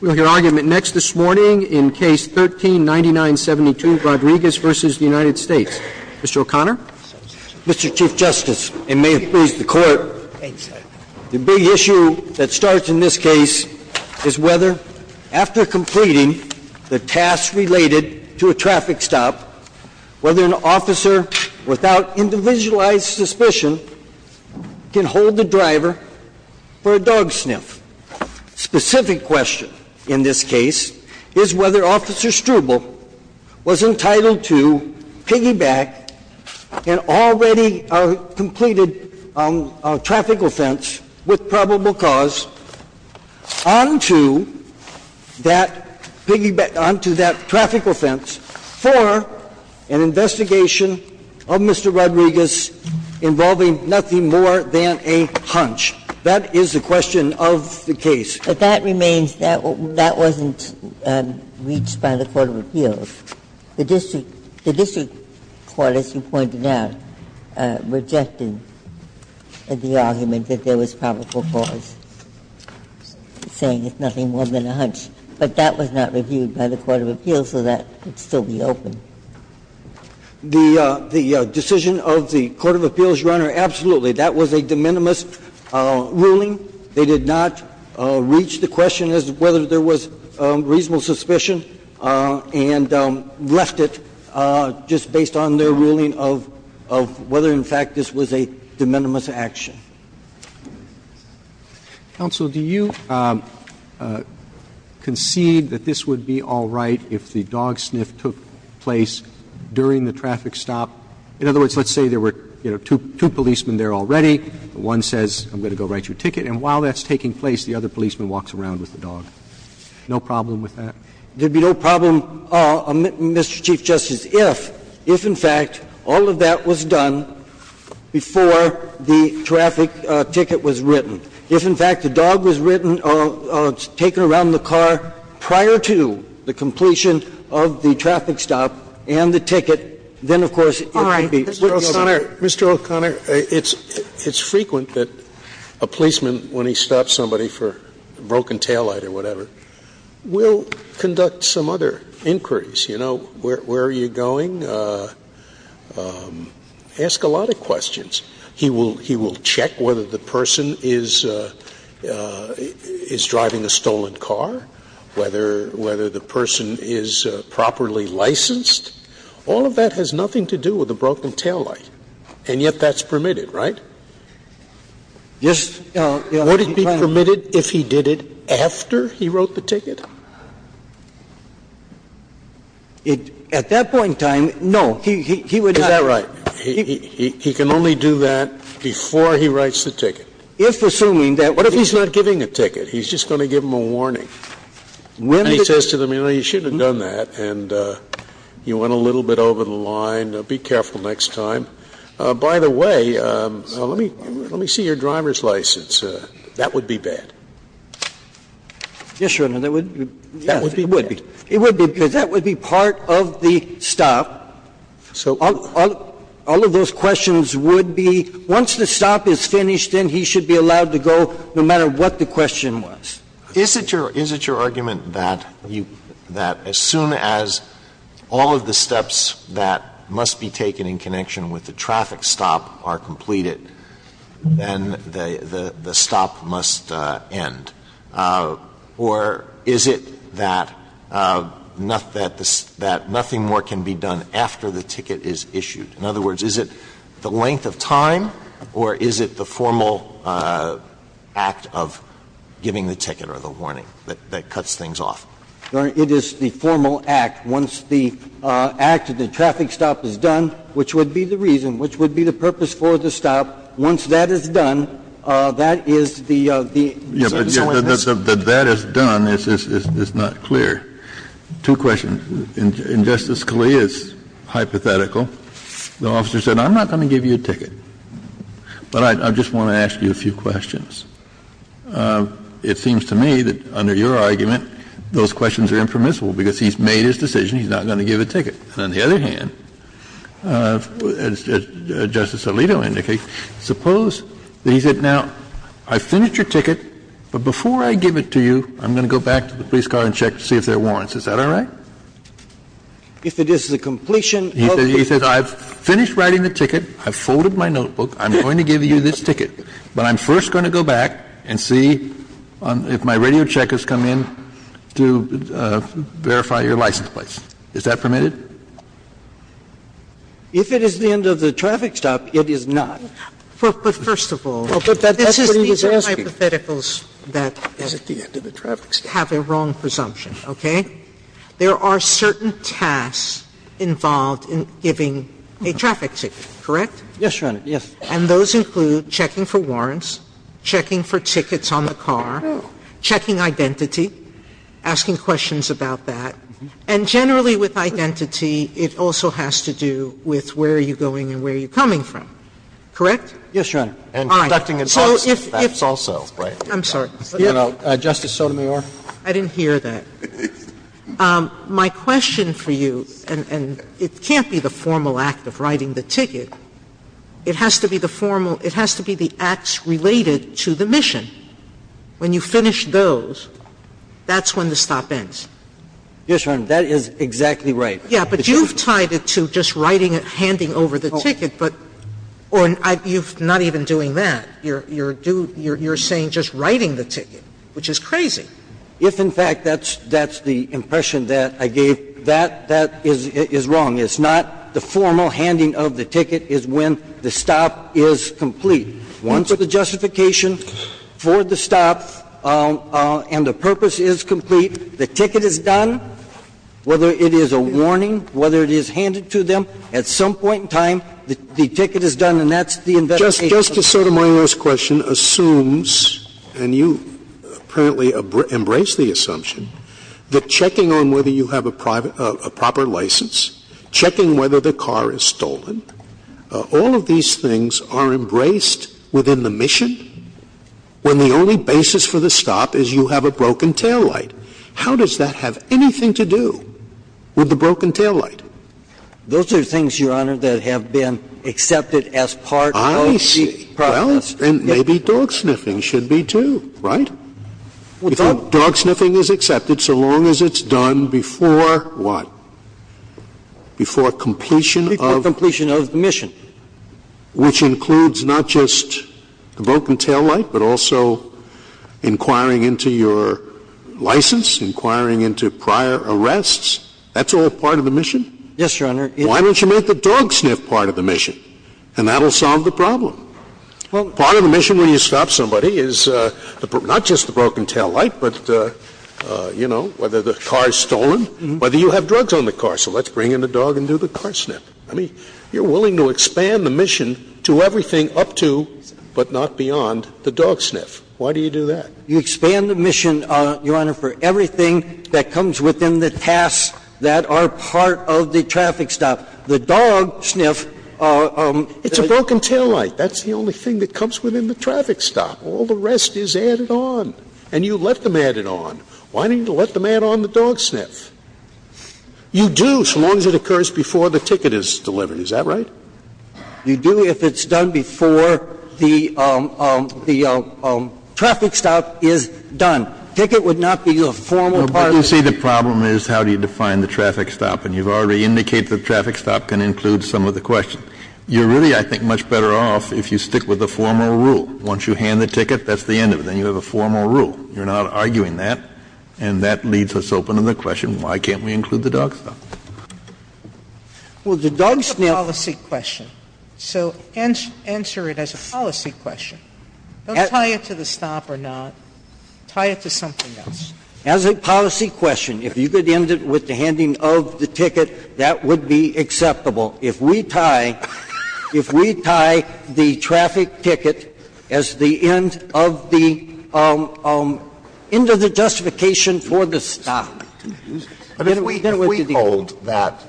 We will hear argument next this morning in Case 13-9972, Rodriguez v. United States. Mr. O'Connor. Mr. Chief Justice, and may it please the Court, the big issue that starts in this case is whether, after completing the task related to a traffic stop, whether an officer, without individualized suspicion, can hold the driver for a dog sniff. Specific question in this case is whether Officer Struble was entitled to piggyback an already completed traffic offense with probable cause onto that piggyback – onto that traffic offense for an investigation of Mr. Rodriguez involving nothing more than a hunch. That is the question of the case. But that remains – that wasn't reached by the Court of Appeals. The district court, as you pointed out, rejected the argument that there was probable cause, saying it's nothing more than a hunch. But that was not reviewed by the Court of Appeals, so that would still be open. The decision of the Court of Appeals, Your Honor, absolutely. That was a de minimis ruling. They did not reach the question as to whether there was reasonable suspicion. And left it just based on their ruling of – of whether, in fact, this was a de minimis action. Roberts. Counsel, do you concede that this would be all right if the dog sniff took place during the traffic stop? In other words, let's say there were, you know, two policemen there already. One says, I'm going to go write you a ticket. And while that's taking place, the other policeman walks around with the dog. No problem with that? There'd be no problem, Mr. Chief Justice, if, in fact, all of that was done before the traffic ticket was written. If, in fact, the dog was written or taken around the car prior to the completion of the traffic stop and the ticket, then, of course, it would be open. All right. Mr. O'Connor, Mr. O'Connor, it's frequent that a policeman, when he stops somebody for a broken taillight or whatever, will conduct some other inquiries. You know, where are you going? Ask a lot of questions. He will check whether the person is driving a stolen car, whether the person is properly licensed. All of that has nothing to do with the broken taillight. And yet that's permitted, right? Just, you know, what are you trying to do? Would it be permitted if he did it after he wrote the ticket? At that point in time, no. He would not. Is that right? He can only do that before he writes the ticket. If, assuming that was the case. What if he's not giving a ticket? He's just going to give them a warning. And he says to them, you know, you should have done that, and you went a little bit over the line. Be careful next time. By the way, let me see your driver's license. That would be bad. Yes, Your Honor, that would be bad. It would be, because that would be part of the stop. All of those questions would be, once the stop is finished, then he should be allowed to go, no matter what the question was. Is it your argument that as soon as all of the steps that must be taken in connection with the traffic stop are completed, then the stop must end? Or is it that nothing more can be done after the ticket is issued? In other words, is it the length of time, or is it the formal act of giving the ticket or the warning that cuts things off? Your Honor, it is the formal act. Once the act of the traffic stop is done, which would be the reason, which would be the purpose for the stop, once that is done, that is the, the, so and so. Kennedy, that that is done is not clear. Two questions. In Justice Scalia's hypothetical, the officer said, I'm not going to give you a ticket, but I just want to ask you a few questions. It seems to me that under your argument, those questions are impermissible because he's made his decision, he's not going to give a ticket. On the other hand, as Justice Alito indicates, suppose that he said, now, I've finished your ticket, but before I give it to you, I'm going to go back to the police car and check to see if there are warrants. Is that all right? If it is the completion of the ticket. He says, I've finished writing the ticket, I've folded my notebook, I'm going to give you this ticket, but I'm first going to go back and see if my radio check has come in to verify your license plate. Is that permitted? If it is the end of the traffic stop, it is not. Sotomayor, but first of all, this is, these are hypotheticals that have a wrong presumption. Okay? There are certain tasks involved in giving a traffic ticket, correct? Yes, Your Honor. Yes. And those include checking for warrants, checking for tickets on the car, checking So it's a task involving identity, asking questions about that, and generally with identity, it also has to do with where are you going and where are you coming from, correct? Yes, Your Honor. And conducting an officer's task also. Right. I'm sorry. Justice Sotomayor. I didn't hear that. My question for you, and it can't be the formal act of writing the ticket. It has to be the formal, it has to be the acts related to the mission. When you finish those, that's when the stop ends. Yes, Your Honor. That is exactly right. Yes, but you've tied it to just writing it, handing over the ticket, but, or you're not even doing that. You're saying just writing the ticket, which is crazy. If, in fact, that's the impression that I gave, that is wrong. It's not the formal handing of the ticket is when the stop is complete. Once the justification for the stop and the purpose is complete, the ticket is done, whether it is a warning, whether it is handed to them, at some point in time, the ticket is done, and that's the investigation. Justice Sotomayor's question assumes, and you apparently embrace the assumption, that checking on whether you have a proper license, checking whether the car is stolen, all of these things are embraced within the mission when the only basis for the stop is you have a broken taillight. How does that have anything to do with the broken taillight? Those are things, Your Honor, that have been accepted as part of the mission. I see. Well, and maybe dog sniffing should be, too, right? Dog sniffing is accepted so long as it's done before what? Before completion of? Before completion of the mission. Which includes not just the broken taillight, but also inquiring into your license, inquiring into prior arrests. That's all part of the mission? Yes, Your Honor. Why don't you make the dog sniff part of the mission? And that will solve the problem. Part of the mission when you stop somebody is not just the broken taillight, but, you know, whether the car is stolen, whether you have drugs on the car. So let's bring in the dog and do the car sniff. I mean, you're willing to expand the mission to everything up to, but not beyond, the dog sniff. Why do you do that? You expand the mission, Your Honor, for everything that comes within the tasks that are part of the traffic stop. The dog sniff, it's a broken taillight. That's the only thing that comes within the traffic stop. All the rest is added on. And you let them add it on. Why don't you let them add on the dog sniff? You do so long as it occurs before the ticket is delivered. Is that right? You do if it's done before the traffic stop is done. Ticket would not be a formal part of the mission. But you see, the problem is, how do you define the traffic stop? And you've already indicated the traffic stop can include some of the questions. You're really, I think, much better off if you stick with the formal rule. Once you hand the ticket, that's the end of it. Then you have a formal rule. You're not arguing that, and that leads us open to the question, why can't we include the dog sniff? Well, the dog sniff is a policy question, so answer it as a policy question. Don't tie it to the stop or not. Tie it to something else. As a policy question, if you could end it with the handing of the ticket, that would be acceptable. If we tie the traffic ticket as the end of the justification for the stop, then what do you think? Alitoson I mean, if we hold that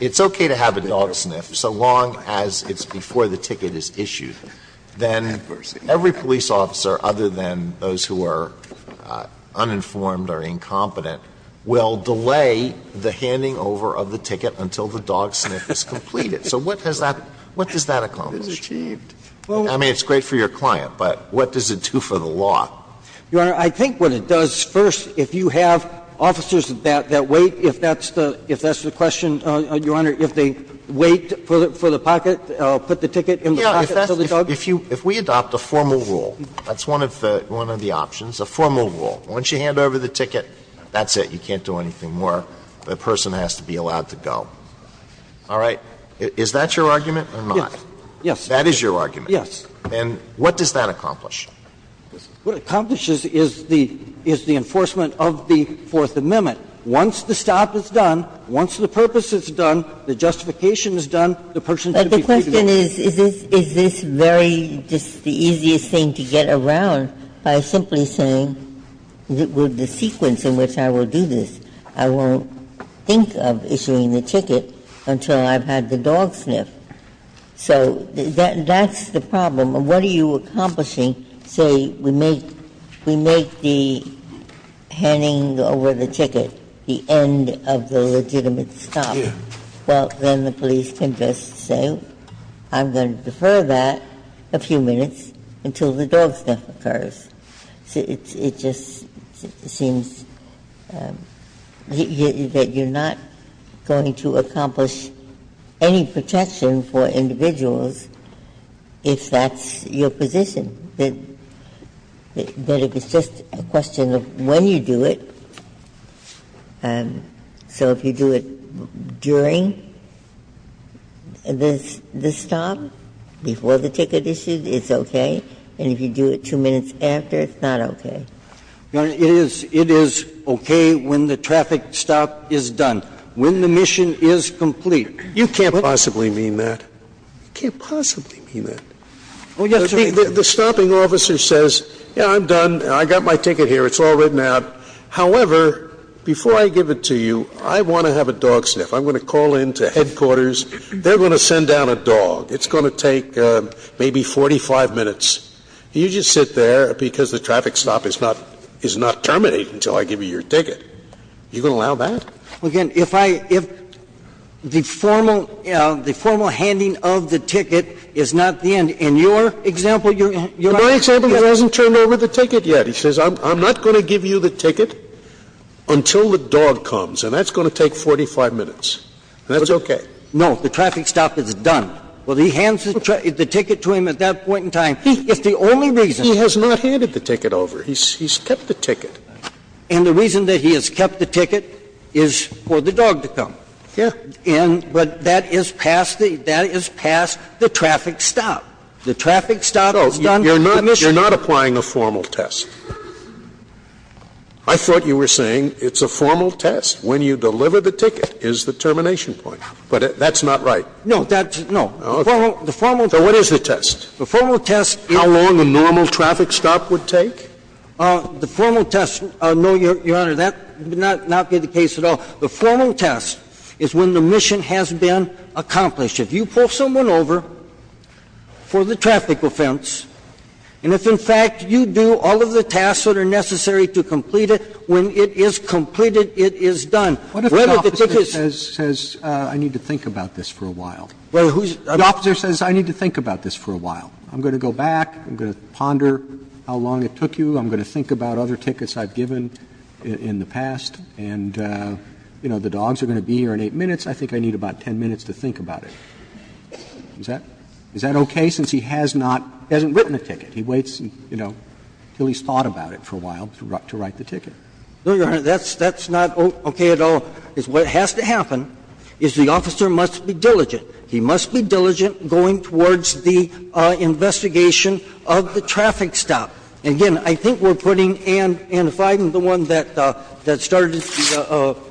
it's okay to have a dog sniff so long as it's before the ticket is issued, then every police officer, other than those who are uninformed or incompetent, will delay the handing over of the ticket until the dog sniff is completed. So what does that accomplish? I mean, it's great for your client, but what does it do for the law? Your Honor, I think what it does, first, if you have officers that wait, if that's the question, Your Honor, if they wait for the pocket, put the ticket in the pocket of the dog. If we adopt a formal rule, that's one of the options, a formal rule. Once you hand over the ticket, that's it. You can't do anything more. The person has to be allowed to go. All right? Is that your argument or not? Yes. That is your argument? Yes. And what does that accomplish? What it accomplishes is the enforcement of the Fourth Amendment. Once the stop is done, once the purpose is done, the justification is done, the person can be freed of it. But the question is, is this very, just the easiest thing to get around by simply saying, with the sequence in which I will do this, I won't think of issuing the ticket until I've had the dog sniff. So that's the problem. What are you accomplishing? Well, I mean, say we make the handing over the ticket the end of the legitimate stop. Yes. Well, then the police can just say, I'm going to defer that a few minutes until the dog sniff occurs. It just seems that you're not going to accomplish any protection for individuals if that's your position, that it's just a question of when you do it. So if you do it during the stop, before the ticket issue, it's okay. And if you do it two minutes after, it's not okay. Your Honor, it is okay when the traffic stop is done, when the mission is complete. You can't possibly mean that. You can't possibly mean that. The stopping officer says, yeah, I'm done. I got my ticket here. It's all written out. However, before I give it to you, I want to have a dog sniff. I'm going to call in to headquarters. They're going to send down a dog. It's going to take maybe 45 minutes. You just sit there because the traffic stop is not terminated until I give you your ticket. You going to allow that? Well, again, if I – if the formal – the formal handing of the ticket is not the end. In your example, Your Honor, you're not going to get it. My example, he hasn't turned over the ticket yet. He says, I'm not going to give you the ticket until the dog comes, and that's going to take 45 minutes. That's okay. No. The traffic stop is done. Well, he hands the ticket to him at that point in time. He – it's the only reason. He has not handed the ticket over. He's kept the ticket. And the reason that he has kept the ticket is for the dog to come. Yeah. And – but that is past the – that is past the traffic stop. The traffic stop is done. You're not – you're not applying a formal test. I thought you were saying it's a formal test. When you deliver the ticket is the termination point. But that's not right. No. That's – no. The formal – the formal – So what is the test? The formal test is – How long a normal traffic stop would take? The formal test – no, Your Honor, that would not be the case at all. The formal test is when the mission has been accomplished. If you pull someone over for the traffic offense, and if, in fact, you do all of the tasks that are necessary to complete it, when it is completed, it is done. What if the officer says, I need to think about this for a while? Well, who's – The officer says, I need to think about this for a while. I'm going to go back. I'm going to ponder how long it took you. I'm going to think about other tickets I've given in the past. And, you know, the dogs are going to be here in 8 minutes. I think I need about 10 minutes to think about it. Is that – is that okay? Since he has not – hasn't written a ticket. He waits, you know, until he's thought about it for a while to write the ticket. No, Your Honor, that's – that's not okay at all. What has to happen is the officer must be diligent. He must be diligent going towards the investigation of the traffic stop. Again, I think we're putting – and if I'm the one that – that started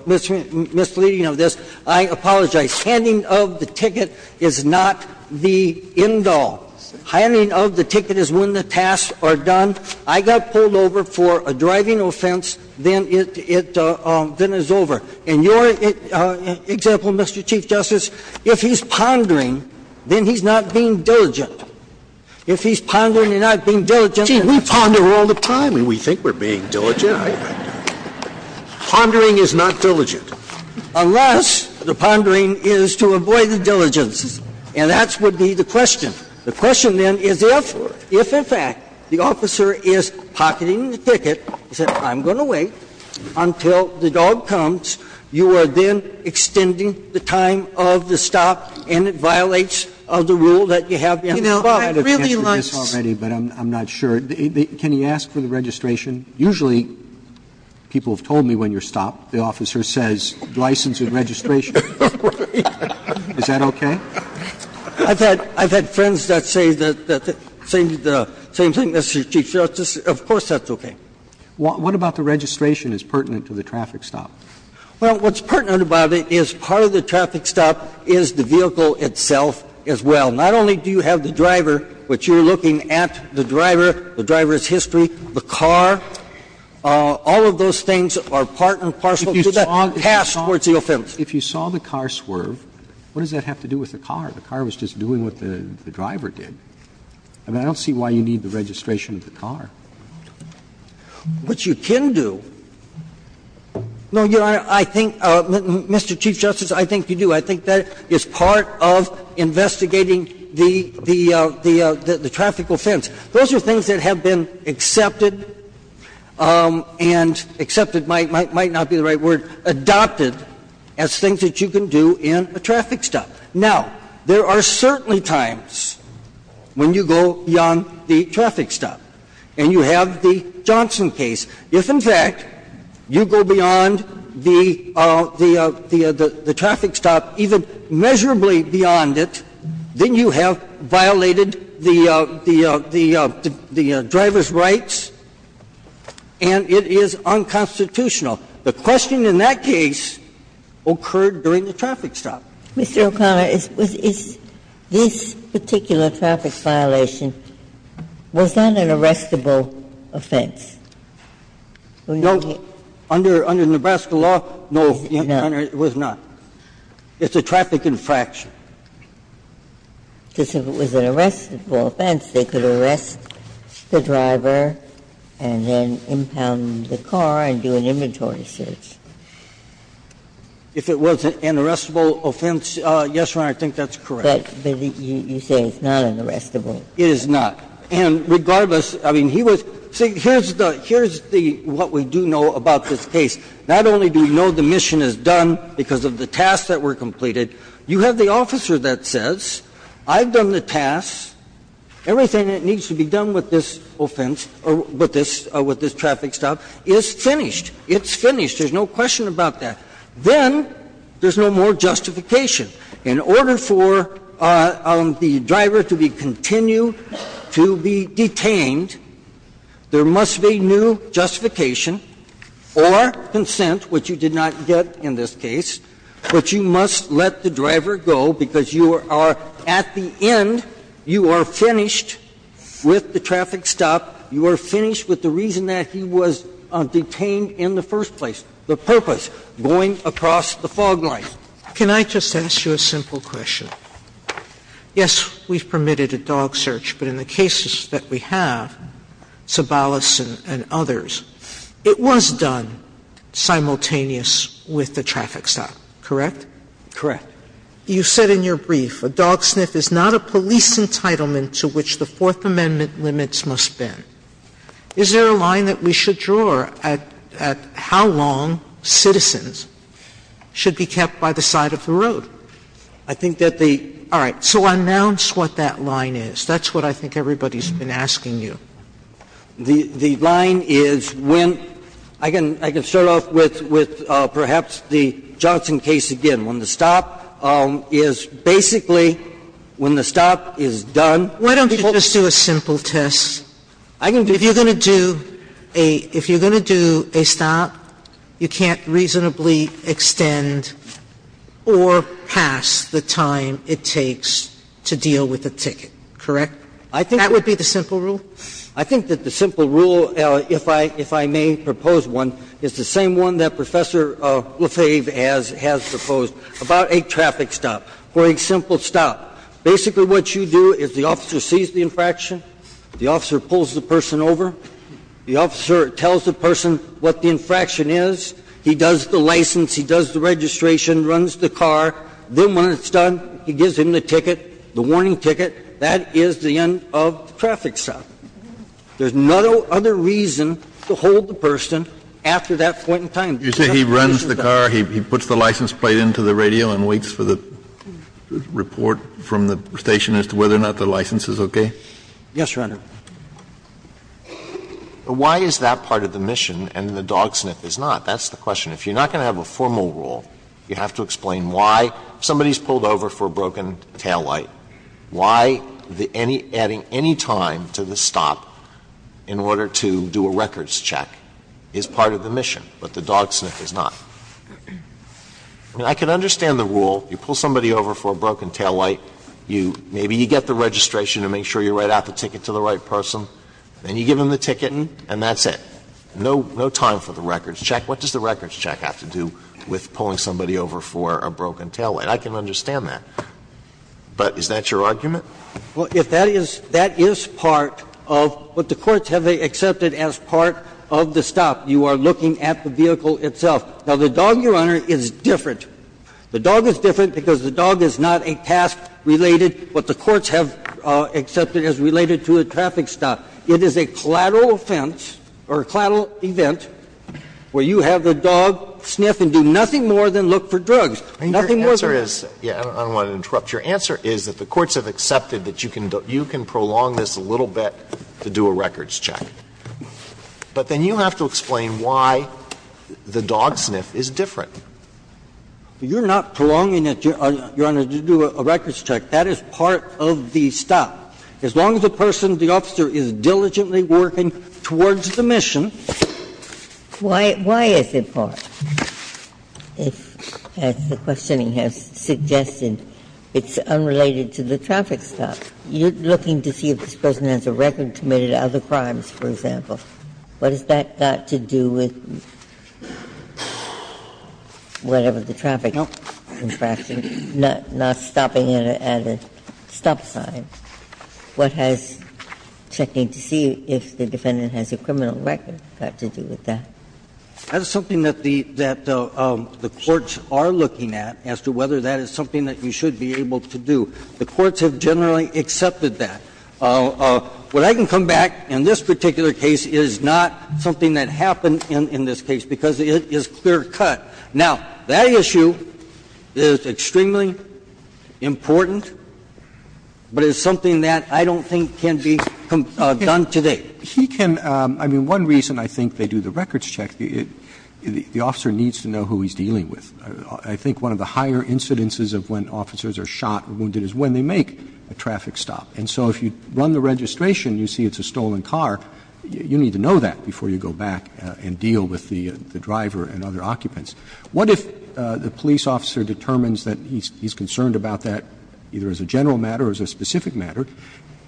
misleading of this, I apologize. Handing of the ticket is not the end all. Handing of the ticket is when the tasks are done. I got pulled over for a driving offense, then it – then it's over. In your example, Mr. Chief Justice, if he's pondering, then he's not being diligent. If he's pondering and not being diligent, then he's not being diligent. See, we ponder all the time, and we think we're being diligent. Pondering is not diligent. Unless the pondering is to avoid the diligence. And that would be the question. The question, then, is if – if, in fact, the officer is pocketing the ticket, he said, I'm going to wait until the dog comes. You are then extending the time of the stop, and it violates the rule that you have to stop. You know, I really like this. Roberts, I've answered this already, but I'm not sure. Can he ask for the registration? Usually, people have told me when you're stopped, the officer says, license and registration. Is that okay? I've had – I've had friends that say the same thing, Mr. Chief Justice. Of course that's okay. What about the registration is pertinent to the traffic stop? Well, what's pertinent about it is part of the traffic stop is the vehicle itself as well. Not only do you have the driver, but you're looking at the driver, the driver's history, the car. All of those things are part and parcel to the task towards the offense. If you saw the car swerve, what does that have to do with the car? The car was just doing what the driver did. I mean, I don't see why you need the registration of the car. What you can do – no, Your Honor, I think, Mr. Chief Justice, I think you do. I think that is part of investigating the – the traffic offense. Those are things that have been accepted and – accepted might not be the right word – adopted as things that you can do in a traffic stop. Now, there are certainly times when you go beyond the traffic stop. And you have the Johnson case. If, in fact, you go beyond the – the traffic stop, even measurably beyond it, then you have violated the – the driver's rights, and it is unconstitutional. The question in that case occurred during the traffic stop. Mr. O'Connor, is – is this particular traffic violation, was that an arrestable offense? No. Under – under Nebraska law, no, Your Honor, it was not. It's a traffic infraction. Because if it was an arrestable offense, they could arrest the driver and then impound the car and do an inventory search. If it was an arrestable offense, yes, Your Honor, I think that's correct. But you say it's not an arrestable. It is not. And regardless, I mean, he was – see, here's the – here's the – what we do know about this case. Not only do we know the mission is done because of the tasks that were completed, you have the officer that says, I've done the tasks, everything that needs to be done with this offense, or with this – or with this traffic stop is finished. It's finished. There's no question about that. Then there's no more justification. In order for the driver to be continued to be detained, there must be new justification or consent, which you did not get in this case. But you must let the driver go because you are – at the end, you are finished with the traffic stop. You are finished with the reason that he was detained in the first place, the purpose, going across the fog light. Sotomayor, can I just ask you a simple question? Yes, we've permitted a dog search, but in the cases that we have, Sobolos and others, it was done simultaneous with the traffic stop, correct? Correct. You said in your brief, a dog sniff is not a police entitlement to which the Fourth Amendment applies. Is there a line that we should draw at how long citizens should be kept by the side of the road? I think that the – All right. So announce what that line is. That's what I think everybody's been asking you. The line is when – I can start off with perhaps the Johnson case again. When the stop is basically – when the stop is done, people – Why don't you just do a simple test? If you're going to do a – if you're going to do a stop, you can't reasonably extend or pass the time it takes to deal with a ticket, correct? I think – That would be the simple rule? I think that the simple rule, if I may propose one, is the same one that Professor Lefebvre has proposed about a traffic stop. For a simple stop, basically what you do is the officer sees the infraction, the officer pulls the person over, the officer tells the person what the infraction is, he does the license, he does the registration, runs the car, then when it's done, he gives him the ticket, the warning ticket. That is the end of the traffic stop. There's no other reason to hold the person after that point in time. You say he runs the car, he puts the license plate into the radio and waits for the report from the station as to whether or not the license is okay? Yes, Your Honor. Alitoson Why is that part of the mission and the dogsniff is not? That's the question. If you're not going to have a formal rule, you have to explain why somebody has pulled over for a broken taillight, why adding any time to the stop in order to do a records check is part of the mission, but the dogsniff is not. I mean, I can understand the rule. You pull somebody over for a broken taillight. Maybe you get the registration to make sure you write out the ticket to the right person, then you give them the ticket and that's it. No time for the records check. What does the records check have to do with pulling somebody over for a broken taillight? I can understand that. But is that your argument? Well, if that is part of what the courts have accepted as part of the stop, you are looking at the vehicle itself. Now, the dog, Your Honor, is different. The dog is different because the dog is not a task related, what the courts have accepted as related to a traffic stop. It is a collateral offense or a collateral event where you have the dog sniff and do nothing more than look for drugs, nothing more than look for drugs. I don't want to interrupt. Your answer is that the courts have accepted that you can prolong this a little bit to do a records check. But then you have to explain why the dogsniff is different. You're not prolonging it, Your Honor, to do a records check. That is part of the stop. As long as the person, the officer, is diligently working towards the mission. Why is it part? As the questioning has suggested, it's unrelated to the traffic stop. You're looking to see if this person has a record committed of other crimes, for example. What has that got to do with? Whatever the traffic infraction, not stopping at a stop sign. What has checking to see if the defendant has a criminal record got to do with that? That is something that the courts are looking at as to whether that is something that you should be able to do. The courts have generally accepted that. What I can come back, in this particular case, is not something that happened in this case, because it is clear-cut. Now, that issue is extremely important, but it's something that I don't think can be done today. He can – I mean, one reason I think they do the records check, the officer needs to know who he's dealing with. I think one of the higher incidences of when officers are shot or wounded is when they make a traffic stop. And so if you run the registration, you see it's a stolen car. You need to know that before you go back and deal with the driver and other occupants. What if the police officer determines that he's concerned about that, either as a general matter or as a specific matter?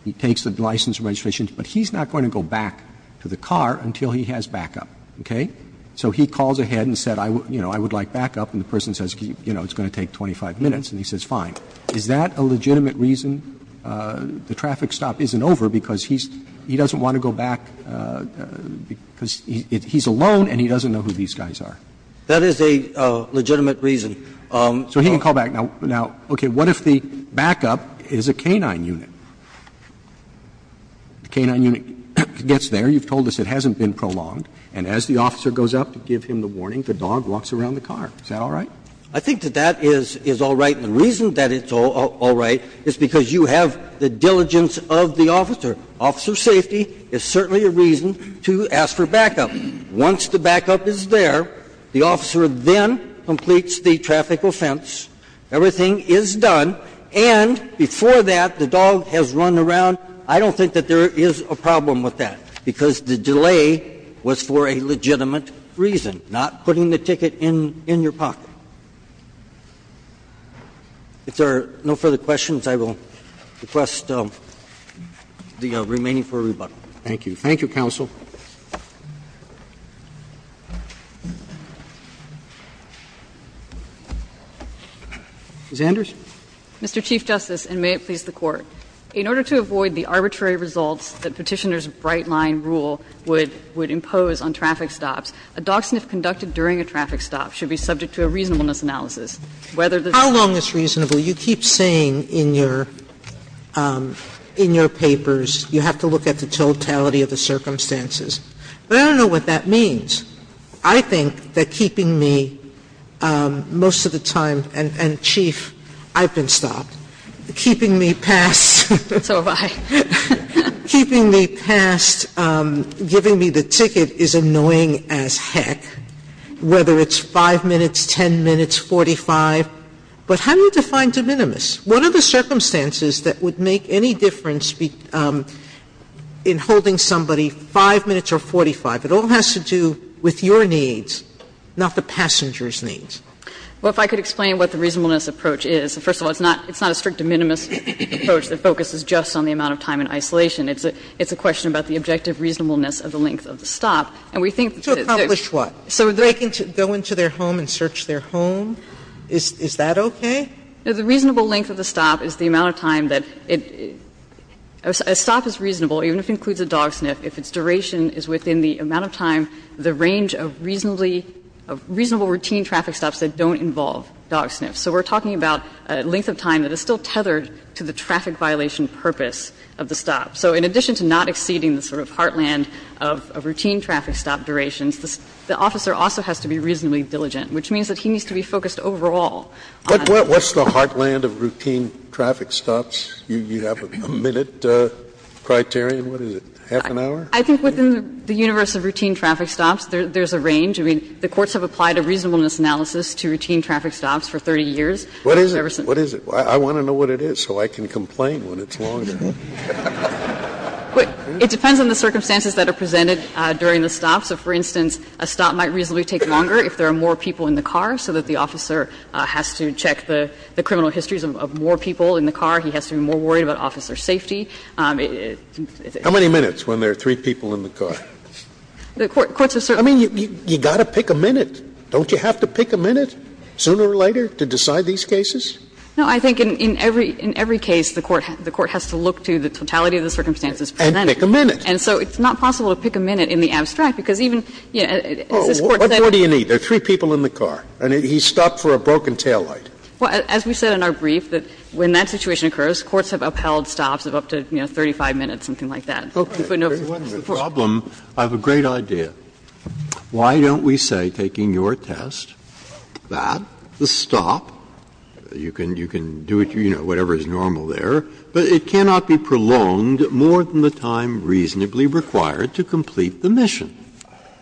He takes the license and registration, but he's not going to go back to the car until he has backup, okay? So he calls ahead and said, you know, I would like backup, and the person says, you know, it's going to take 25 minutes, and he says fine. Is that a legitimate reason the traffic stop isn't over because he's – he doesn't want to go back because he's alone and he doesn't know who these guys are? That is a legitimate reason. So he can call back. Now, okay, what if the backup is a canine unit? The canine unit gets there. You've told us it hasn't been prolonged. And as the officer goes up to give him the warning, the dog walks around the car. Is that all right? I think that that is all right. The reason that it's all right is because you have the diligence of the officer. Officer safety is certainly a reason to ask for backup. Once the backup is there, the officer then completes the traffic offense. Everything is done. And before that, the dog has run around. I don't think that there is a problem with that, because the delay was for a legitimate reason, not putting the ticket in your pocket. If there are no further questions, I will request the remaining for rebuttal. Thank you. Thank you, counsel. Ms. Anders. Mr. Chief Justice, and may it please the Court. In order to avoid the arbitrary results that Petitioner's bright-line rule would impose on traffic stops, a dog sniff conducted during a traffic stop should be subject to a reasonableness analysis. How long is reasonable? You keep saying in your papers you have to look at the totality of the circumstances. But I don't know what that means. I think that keeping me most of the time, and Chief, I've been stopped. Keeping me past. So have I. Keeping me past giving me the ticket is annoying as heck. Whether it's 5 minutes, 10 minutes, 45. But how do you define de minimis? What are the circumstances that would make any difference in holding somebody 5 minutes or 45? It all has to do with your needs, not the passenger's needs. Well, if I could explain what the reasonableness approach is. First of all, it's not a strict de minimis approach that focuses just on the amount of time in isolation. It's a question about the objective reasonableness of the length of the stop. And we think that it's. So if somebody is going to their home and search their home, is that okay? The reasonable length of the stop is the amount of time that it. A stop is reasonable, even if it includes a dog sniff, if its duration is within the amount of time, the range of reasonably, of reasonable routine traffic stops that don't involve dog sniffs. So we're talking about a length of time that is still tethered to the traffic violation purpose of the stop. So in addition to not exceeding the sort of heartland of a routine traffic stop duration, the officer also has to be reasonably diligent, which means that he needs to be focused overall on. Scalia, What's the heartland of routine traffic stops? You have a minute criterion. What is it? Half an hour? I think within the universe of routine traffic stops, there's a range. I mean, the courts have applied a reasonableness analysis to routine traffic stops for 30 years. Scalia, What is it? What is it? I want to know what it is so I can complain when it's longer. It depends on the circumstances that are presented during the stop. So for instance, a stop might reasonably take longer if there are more people in the car, so that the officer has to check the criminal histories of more people in the car. He has to be more worried about officer safety. Scalia, How many minutes when there are three people in the car? I mean, you've got to pick a minute. Don't you have to pick a minute sooner or later to decide these cases? No, I think in every case, the court has to look to the totality of the circumstances presented. And pick a minute. And so it's not possible to pick a minute in the abstract, because even, you know, as this Court said. Scalia, What do you need? There are three people in the car, and he stopped for a broken taillight. Well, as we said in our brief, that when that situation occurs, courts have upheld stops of up to, you know, 35 minutes, something like that. Scalia, I have a great idea. Why don't we say, taking your test, that the stop, you can do it, you know, whatever is normal there, but it cannot be prolonged more than the time reasonably required to complete the mission,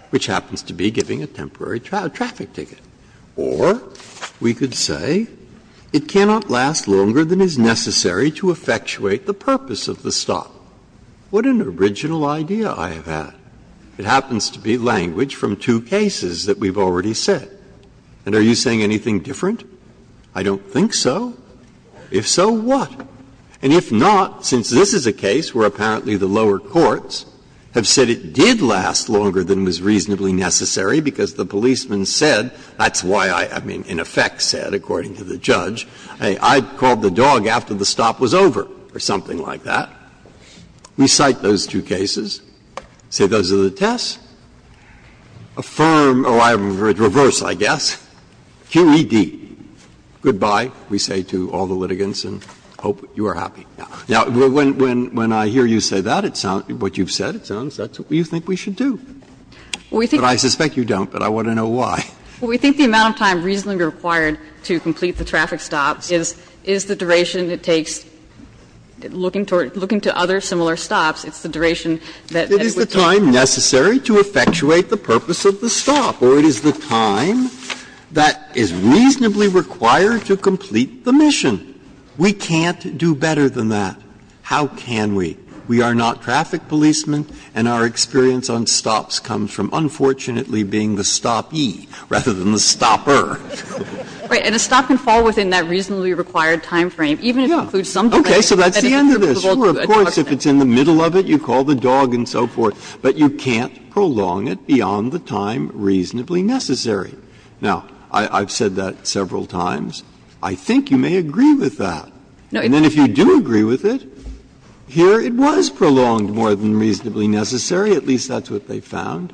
which happens to be giving a temporary traffic ticket. Or we could say, it cannot last longer than is necessary to effectuate the purpose of the stop. What an original idea I have had. It happens to be language from two cases that we've already said. And are you saying anything different? I don't think so. If so, what? And if not, since this is a case where apparently the lower courts have said it did last longer than was reasonably necessary because the policeman said, that's why I, I mean, in effect said, according to the judge, I called the dog after the stop was over, or something like that. We cite those two cases, say those are the tests, affirm or reverse, I guess, QED. Goodbye, we say to all the litigants, and hope you are happy. Now, when, when I hear you say that, it sounds, what you've said, it sounds that's what you think we should do. But I suspect you don't, but I want to know why. We think the amount of time reasonably required to complete the traffic stop is, is the duration it takes, looking to other similar stops, it's the duration that it would take. Is the time necessary to effectuate the purpose of the stop, or it is the time that is reasonably required to complete the mission? We can't do better than that. How can we? We are not traffic policemen, and our experience on stops comes from, unfortunately, being the stopee rather than the stopper. And a stop can fall within that reasonably required time frame, even if it includes some delay. Okay, so that's the end of this. Of course, if it's in the middle of it, you call the dog and so forth, but you can't prolong it beyond the time reasonably necessary. Now, I've said that several times. I think you may agree with that. And then if you do agree with it, here it was prolonged more than reasonably necessary. At least that's what they found.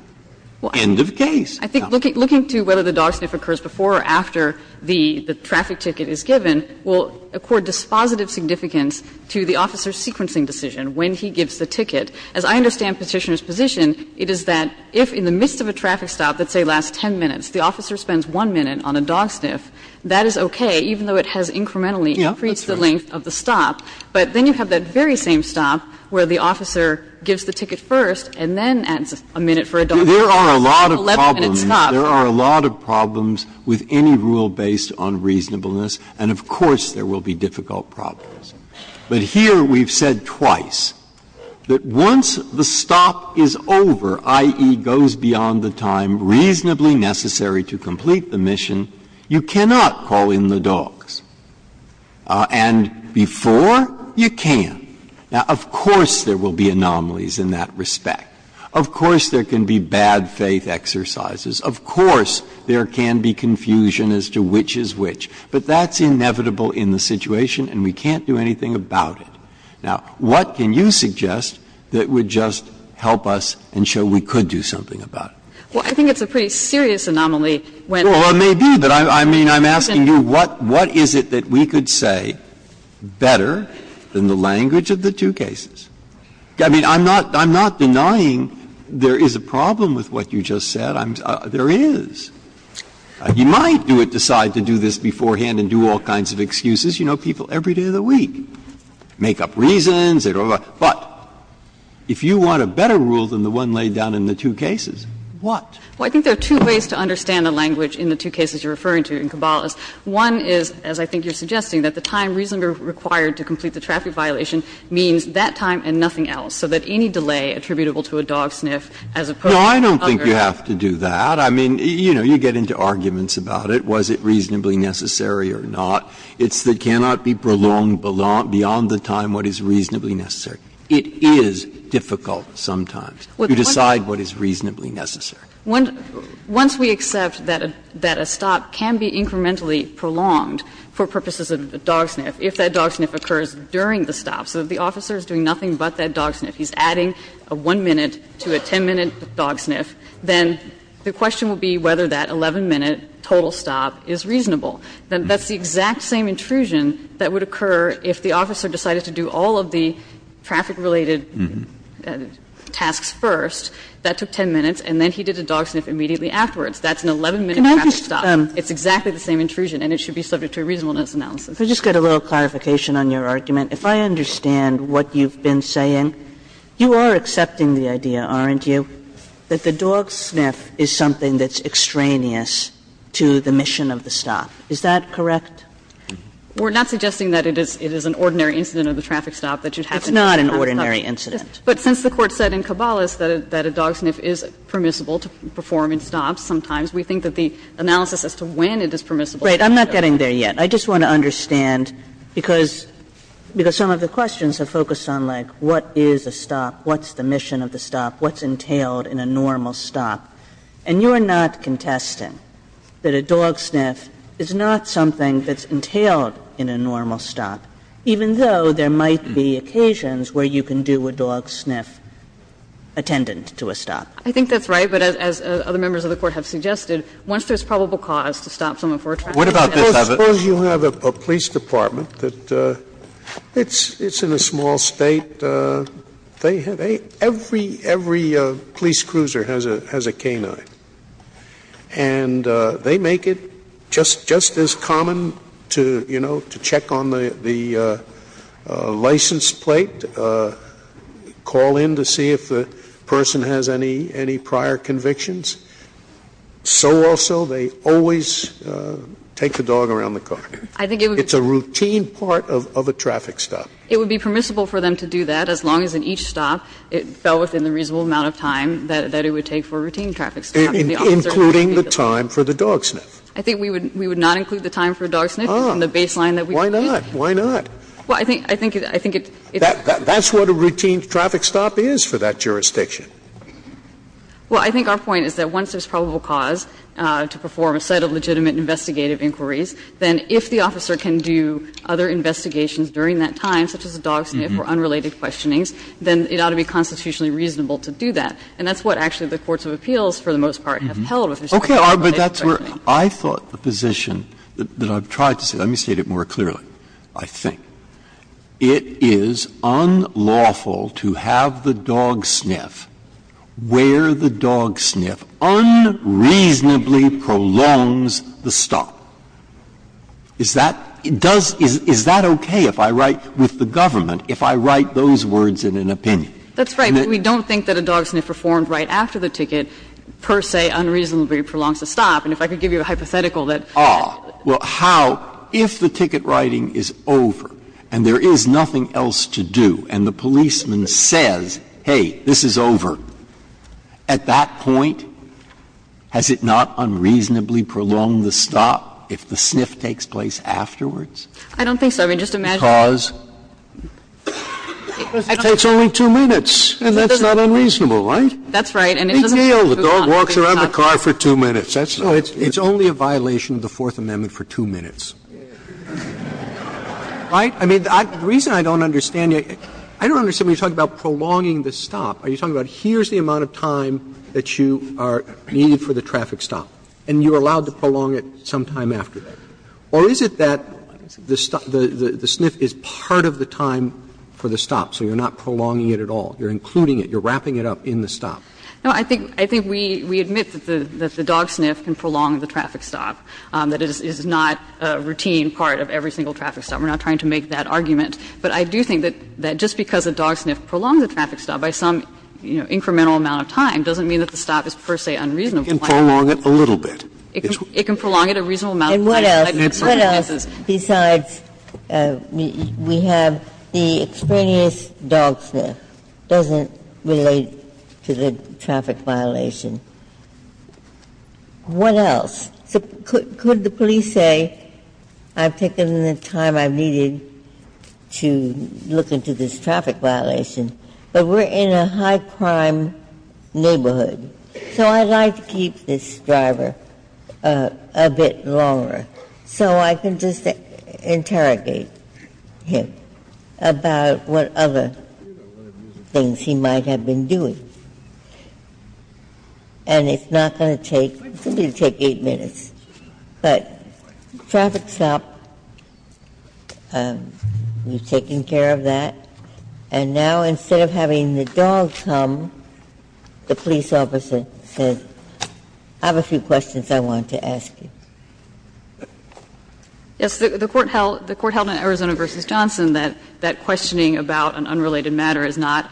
End of case. Now. I think looking to whether the dog sniff occurs before or after the traffic ticket is given will accord dispositive significance to the officer's sequencing decision when he gives the ticket. As I understand Petitioner's position, it is that if in the midst of a traffic stop that, say, lasts 10 minutes, the officer spends one minute on a dog sniff, that is okay, even though it has incrementally increased the length of the stop. But then you have that very same stop where the officer gives the ticket first and then adds a minute for a dog sniff. Breyer. There are a lot of problems. There are a lot of problems with any rule based on reasonableness, and of course there will be difficult problems. But here we've said twice that once the stop is over, i.e., goes beyond the time reasonably necessary to complete the mission, you cannot call in the dogs. And before, you can. Now, of course there will be anomalies in that respect. Of course there can be bad faith exercises. Of course there can be confusion as to which is which. But that's inevitable in the situation, and we can't do anything about it. Now, what can you suggest that would just help us and show we could do something about it? Well, I think it's a pretty serious anomaly when the person doesn't do it. Well, it may be, but I mean, I'm asking you, what is it that we could say better than the language of the two cases? I mean, I'm not denying there is a problem with what you just said. There is. You might decide to do this beforehand and do all kinds of excuses. You know, people every day of the week make up reasons. But if you want a better rule than the one laid down in the two cases, what? Well, I think there are two ways to understand the language in the two cases you're referring to in Cabalas. One is, as I think you're suggesting, that the time reasonably required to complete the traffic violation means that time and nothing else, so that any delay attributable to a dog sniff as opposed to a hunger. No, I don't think you have to do that. I mean, you know, you get into arguments about it, was it reasonably necessary or not. It's that it cannot be prolonged beyond the time what is reasonably necessary. It is difficult sometimes to decide what is reasonably necessary. Once we accept that a stop can be incrementally prolonged for purposes of a dog sniff, if that dog sniff occurs during the stop, so that the officer is doing nothing but that dog sniff, he's adding a 1-minute to a 10-minute dog sniff, then the question will be whether that 11-minute total stop is reasonable. That's the exact same intrusion that would occur if the officer decided to do all of the traffic-related tasks first. That took 10 minutes, and then he did a dog sniff immediately afterwards. That's an 11-minute traffic stop. It's exactly the same intrusion, and it should be subject to a reasonableness analysis. Kagan, if I could just get a little clarification on your argument, if I understand what you've been saying, you are accepting the idea, aren't you, that the dog sniff is something that's extraneous to the mission of the stop. Is that correct? We're not suggesting that it is an ordinary incident of the traffic stop that you'd have to do a traffic stop. It's not an ordinary incident. But since the Court said in Cabalas that a dog sniff is permissible to perform in stops sometimes, we think that the analysis as to when it is permissible is necessary. Right. I'm not getting there yet. I just want to understand, because some of the questions have focused on, like, what is a stop, what's the mission of the stop, what's entailed in a normal stop. And you're not contesting that a dog sniff is not something that's entailed in a normal stop, even though there might be occasions where you can do a dog sniff attendant to a stop. I think that's right. But as other members of the Court have suggested, once there's probable cause to stop someone for a traffic stop. What about this evidence? Suppose you have a police department that it's in a small State. Every police cruiser has a K-9. And they make it just as common to, you know, to check on the license plate, call in to see if the person has any prior convictions. So also they always take the dog around the car. It's a routine part of a traffic stop. It would be permissible for them to do that, as long as in each stop it fell within the reasonable amount of time that it would take for a routine traffic stop. And including the time for the dog sniff. I think we would not include the time for a dog sniff in the baseline that we would be using. Why not? Why not? Well, I think it's. That's what a routine traffic stop is for that jurisdiction. Well, I think our point is that once there's probable cause to perform a set of legitimate investigative inquiries, then if the officer can do other investigations during that time, such as a dog sniff, or unrelated questionings, then it ought to be constitutionally reasonable to do that. And that's what actually the courts of appeals, for the most part, have held with respect to the related questionings. Breyer, but that's where I thought the position that I've tried to say, let me state it more clearly, I think. It is unlawful to have the dog sniff where the dog sniff unreasonably prolongs the stop. Is that does — is that okay if I write with the government, if I write those words in an opinion? That's right. But we don't think that a dog sniff performed right after the ticket per se unreasonably prolongs the stop. And if I could give you a hypothetical that. Ah. Well, how, if the ticket writing is over and there is nothing else to do, and the policeman says, hey, this is over, at that point, has it not unreasonably prolonged the stop if the sniff takes place afterwards? I don't think so. I mean, just imagine. Because it takes only two minutes, and that's not unreasonable, right? That's right. And it doesn't move on. The dog walks around the car for two minutes. So it's only a violation of the Fourth Amendment for two minutes. Right? I mean, the reason I don't understand you, I don't understand when you're talking about prolonging the stop. Are you talking about here's the amount of time that you are needed for the traffic stop, and you're allowed to prolong it sometime after that? Or is it that the sniff is part of the time for the stop, so you're not prolonging it at all? You're including it. You're wrapping it up in the stop. No, I think we admit that the dog sniff can prolong the traffic stop, that it is not a routine part of every single traffic stop. We're not trying to make that argument. But I do think that just because a dog sniff prolongs a traffic stop by some, you know, incremental amount of time doesn't mean that the stop is per se unreasonable. It can prolong it a little bit. It can prolong it a reasonable amount of time. And what else? I'm not sure that's a traffic violation. What else? Could the police say, I've taken the time I've needed to look into this traffic violation, but we're in a high crime neighborhood, so I'd like to keep this driver a bit longer so I can just interrogate him about what other things he might have been doing, and it's not going to take, it's going to take eight minutes. But traffic's up, you've taken care of that, and now instead of having the dog come, the police officer says, I have a few questions I want to ask you. Yes, the Court held in Arizona v. Johnson that questioning about an unrelated matter is not,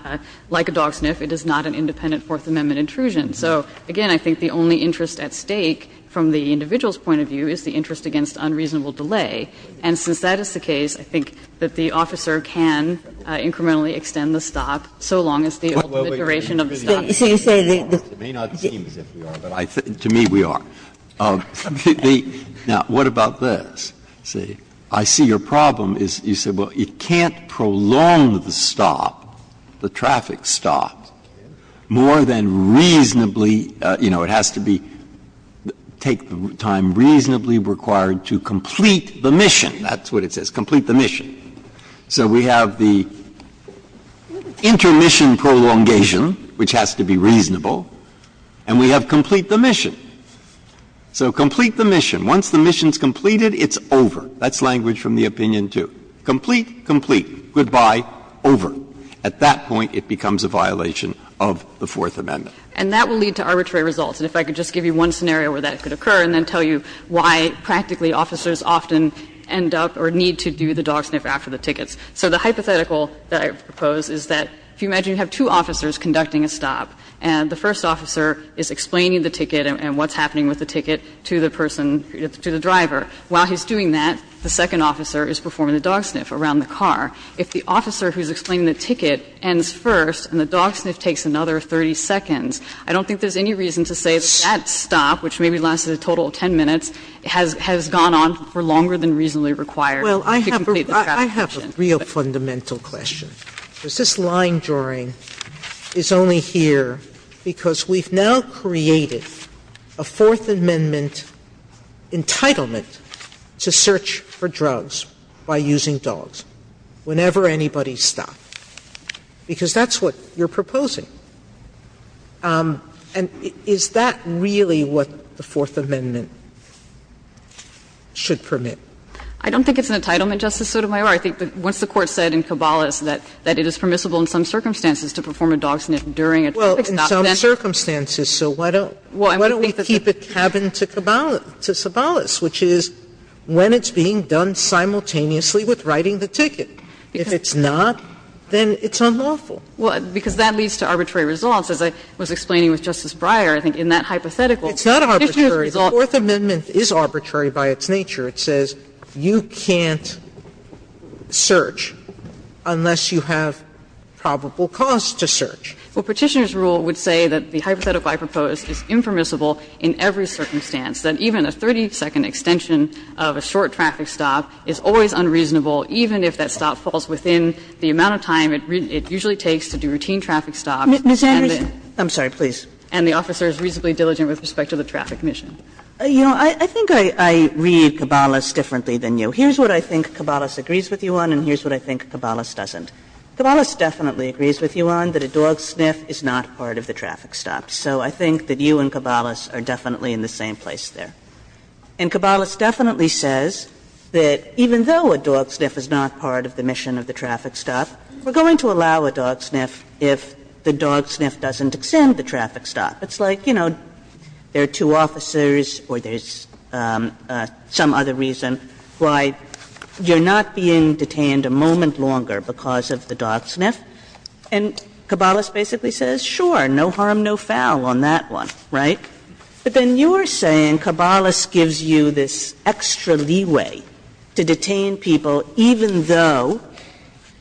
like a dog sniff, it is not an independent Fourth Amendment intrusion. So, again, I think the only interest at stake from the individual's point of view is the interest against unreasonable delay. And since that is the case, I think that the officer can incrementally extend the stop so long as the ultimate duration of the stop is not longer. Breyer, it may not seem as if we are, but to me we are. Now, what about this? You say, I see your problem is, you say, well, it can't prolong the stop, the traffic stop, more than reasonably, you know, it has to be, take the time reasonably required to complete the mission. That's what it says, complete the mission. So we have the intermission prolongation, which has to be reasonable, and we have complete the mission. So complete the mission. Once the mission is completed, it's over. That's language from the opinion, too. Complete, complete, goodbye, over. At that point, it becomes a violation of the Fourth Amendment. And that will lead to arbitrary results. And if I could just give you one scenario where that could occur and then tell you why practically officers often end up or need to do the dog sniff after the tickets. So the hypothetical that I propose is that if you imagine you have two officers conducting a stop, and the first officer is explaining the ticket and what's happening with the ticket to the person, to the driver. While he's doing that, the second officer is performing the dog sniff around the car. If the officer who's explaining the ticket ends first and the dog sniff takes another 30 seconds, I don't think there's any reason to say that that stop, which maybe lasts a total of 10 minutes, has gone on for longer than reasonably required to complete the traffic mission. Sotomayor, I have a real fundamental question, because this line drawing is only here because we've now created a Fourth Amendment entitlement to search for drugs by using dogs whenever anybody stops, because that's what you're proposing. And is that really what the Fourth Amendment should permit? I don't think it's an entitlement, Justice Sotomayor. I think that once the Court said in Cabales that it is permissible in some circumstances to perform a dog sniff during a traffic stop, then. Sotomayor, so why don't we keep it cabin to Cabales, which is when it's being done simultaneously with writing the ticket. If it's not, then it's unlawful. Well, because that leads to arbitrary results. As I was explaining with Justice Breyer, I think in that hypothetical, if you resolve The Fourth Amendment is arbitrary by its nature. It says you can't search unless you have probable cause to search. Well, Petitioner's rule would say that the hypothetical I propose is impermissible in every circumstance, that even a 30-second extension of a short traffic stop is always unreasonable, even if that stop falls within the amount of time it usually takes to do routine traffic stops. Ms. Anders, I'm sorry, please. And the officer is reasonably diligent with respect to the traffic mission. You know, I think I read Cabales differently than you. Here's what I think Cabales agrees with you on and here's what I think Cabales doesn't. Cabales definitely agrees with you on that a dog sniff is not part of the traffic stop. So I think that you and Cabales are definitely in the same place there. And Cabales definitely says that even though a dog sniff is not part of the mission of the traffic stop, we're going to allow a dog sniff if the dog sniff doesn't extend the traffic stop. It's like, you know, there are two officers or there's some other reason why you're not being detained a moment longer because of the dog sniff. And Cabales basically says, sure, no harm, no foul on that one, right? But then you're saying Cabales gives you this extra leeway to detain people even though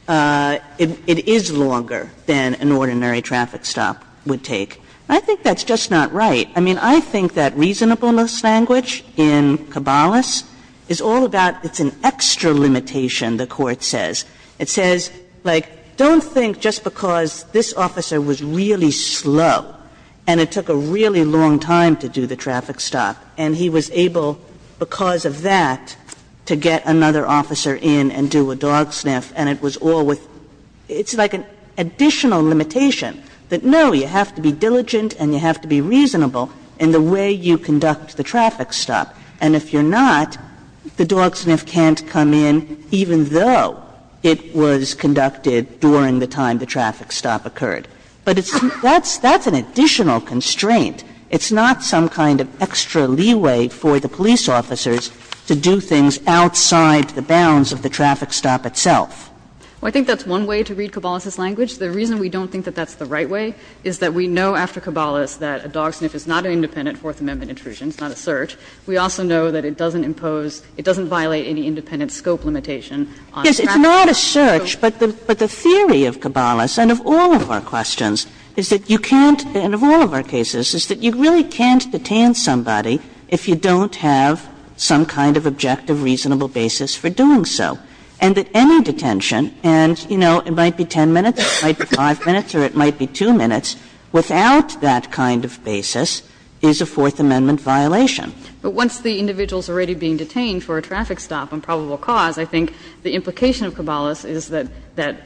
it is longer than an ordinary traffic stop would take. I think that's just not right. I mean, I think that reasonableness language in Cabales is all about it's an extra limitation, the Court says. It says, like, don't think just because this officer was really slow and it took a really long time to do the traffic stop and he was able because of that to get another officer in and do a dog sniff and it was all with – it's like an additional limitation that, no, you have to be diligent and you have to be reasonable in the way you conduct the traffic stop. And if you're not, the dog sniff can't come in even though it was conducted during the time the traffic stop occurred. But it's – that's an additional constraint. It's not some kind of extra leeway for the police officers to do things outside the bounds of the traffic stop itself. Well, I think that's one way to read Cabales's language. The reason we don't think that that's the right way is that we know after Cabales that a dog sniff is not an independent Fourth Amendment intrusion. It's not a search. We also know that it doesn't impose – it doesn't violate any independent scope limitation on traffic. Yes, it's not a search, but the theory of Cabales and of all of our questions is that you can't – and of all of our cases is that you really can't detain somebody if you don't have some kind of objective, reasonable basis for doing so. And that any detention, and, you know, it might be 10 minutes, it might be 5 minutes, or it might be 2 minutes, without that kind of basis is a Fourth Amendment violation. But once the individual is already being detained for a traffic stop and probable cause, I think the implication of Cabales is that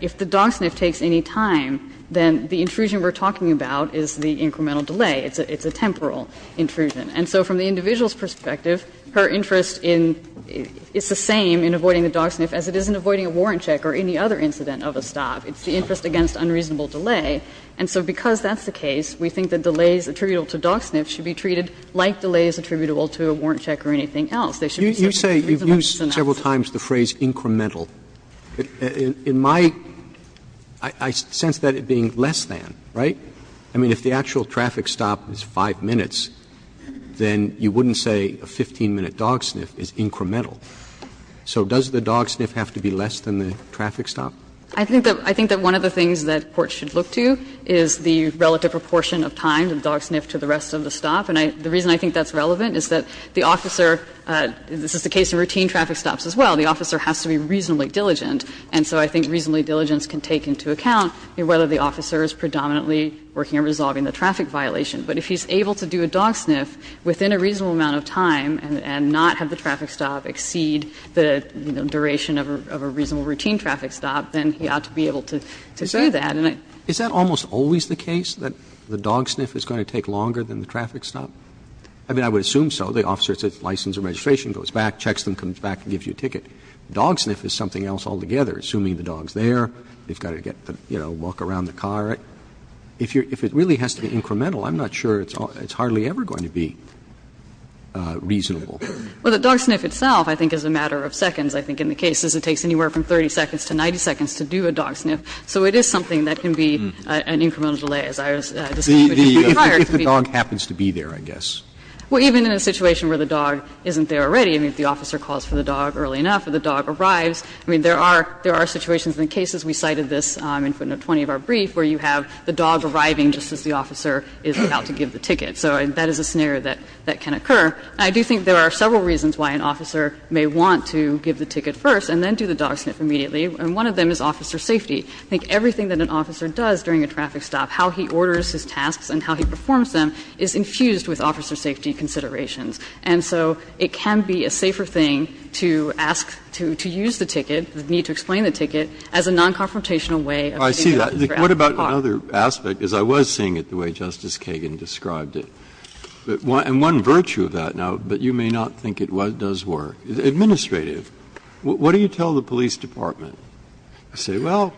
if the dog sniff takes any time, then the intrusion we're talking about is the incremental delay. It's a temporal intrusion. And so from the individual's perspective, her interest in – it's the same in avoiding the dog sniff as it is in avoiding a warrant check or any other incident of a stop. It's the interest against unreasonable delay. And so because that's the case, we think that delays attributable to dog sniffs should be treated like delays attributable to a warrant check or anything else. They should be treated in a reasonable synopsis. Roberts. You say you've used several times the phrase incremental. In my – I sense that it being less than, right? I mean, if the actual traffic stop is 5 minutes, then you wouldn't say a 15-minute dog sniff is incremental. So does the dog sniff have to be less than the traffic stop? I think that one of the things that courts should look to is the relative proportion of time to the dog sniff to the rest of the stop. And the reason I think that's relevant is that the officer – this is the case in routine traffic stops as well – the officer has to be reasonably diligent. And so I think reasonably diligent can take into account whether the officer is predominantly working on resolving the traffic violation. But if he's able to do a dog sniff within a reasonable amount of time and not have the traffic stop exceed the duration of a reasonable routine traffic stop, then he ought to be able to do that. And I – Roberts Is that almost always the case, that the dog sniff is going to take longer than the traffic stop? I mean, I would assume so. The officer says license or registration, goes back, checks them, comes back and gives you a ticket. Dog sniff is something else altogether, assuming the dog's there. They've got to get the – you know, walk around the car. If you're – if it really has to be incremental, I'm not sure it's hardly ever going to be reasonable. Well, the dog sniff itself, I think, is a matter of seconds, I think, in the cases. It takes anywhere from 30 seconds to 90 seconds to do a dog sniff. So it is something that can be an incremental delay, as I was discussing with you prior. If the dog happens to be there, I guess. Well, even in a situation where the dog isn't there already, I mean, if the officer calls for the dog early enough or the dog arrives. I mean, there are – there are situations in the cases, we cited this in footnote 20 of our brief, where you have the dog arriving just as the officer is about to give the ticket. So that is a scenario that can occur. I do think there are several reasons why an officer may want to give the ticket first and then do the dog sniff immediately, and one of them is officer safety. I think everything that an officer does during a traffic stop, how he orders his tasks and how he performs them, is infused with officer safety considerations. And so it can be a safer thing to ask to use the ticket, the need to explain the ticket, as a non-confrontational way of getting the ticket for every car. Breyer, what about another aspect, as I was seeing it the way Justice Kagan described it? And one virtue of that, now, but you may not think it does work, is administrative. What do you tell the police department? You say, well,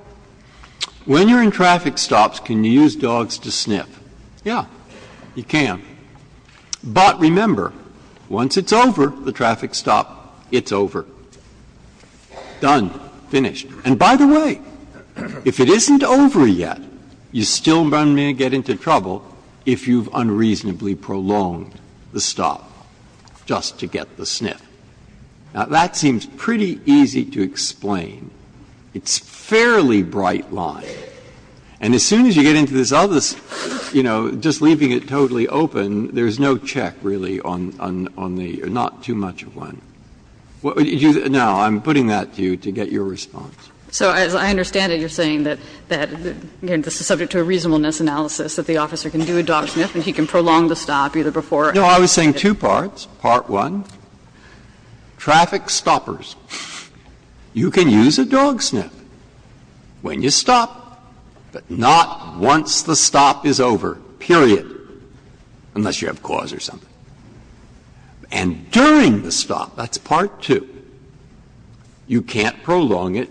when you're in traffic stops, can you use dogs to sniff? Yeah, you can. But remember, once it's over, the traffic stop, it's over. Done. Finished. And by the way, if it isn't over yet, you still may get into trouble if you've unreasonably prolonged the stop just to get the sniff. Now, that seems pretty easy to explain. It's a fairly bright line. And as soon as you get into this other, you know, just leaving it totally open, there's no check, really, on the not too much of one. Now, I'm putting that to you to get your response. So as I understand it, you're saying that, again, this is subject to a reasonableness analysis, that the officer can do a dog sniff and he can prolong the stop, either before or after. No, I was saying two parts. Part one, traffic stoppers, you can use a dog sniff when you stop, but not once the stop is over, period, unless you have cause or something. And during the stop, that's part two, you can't prolong it,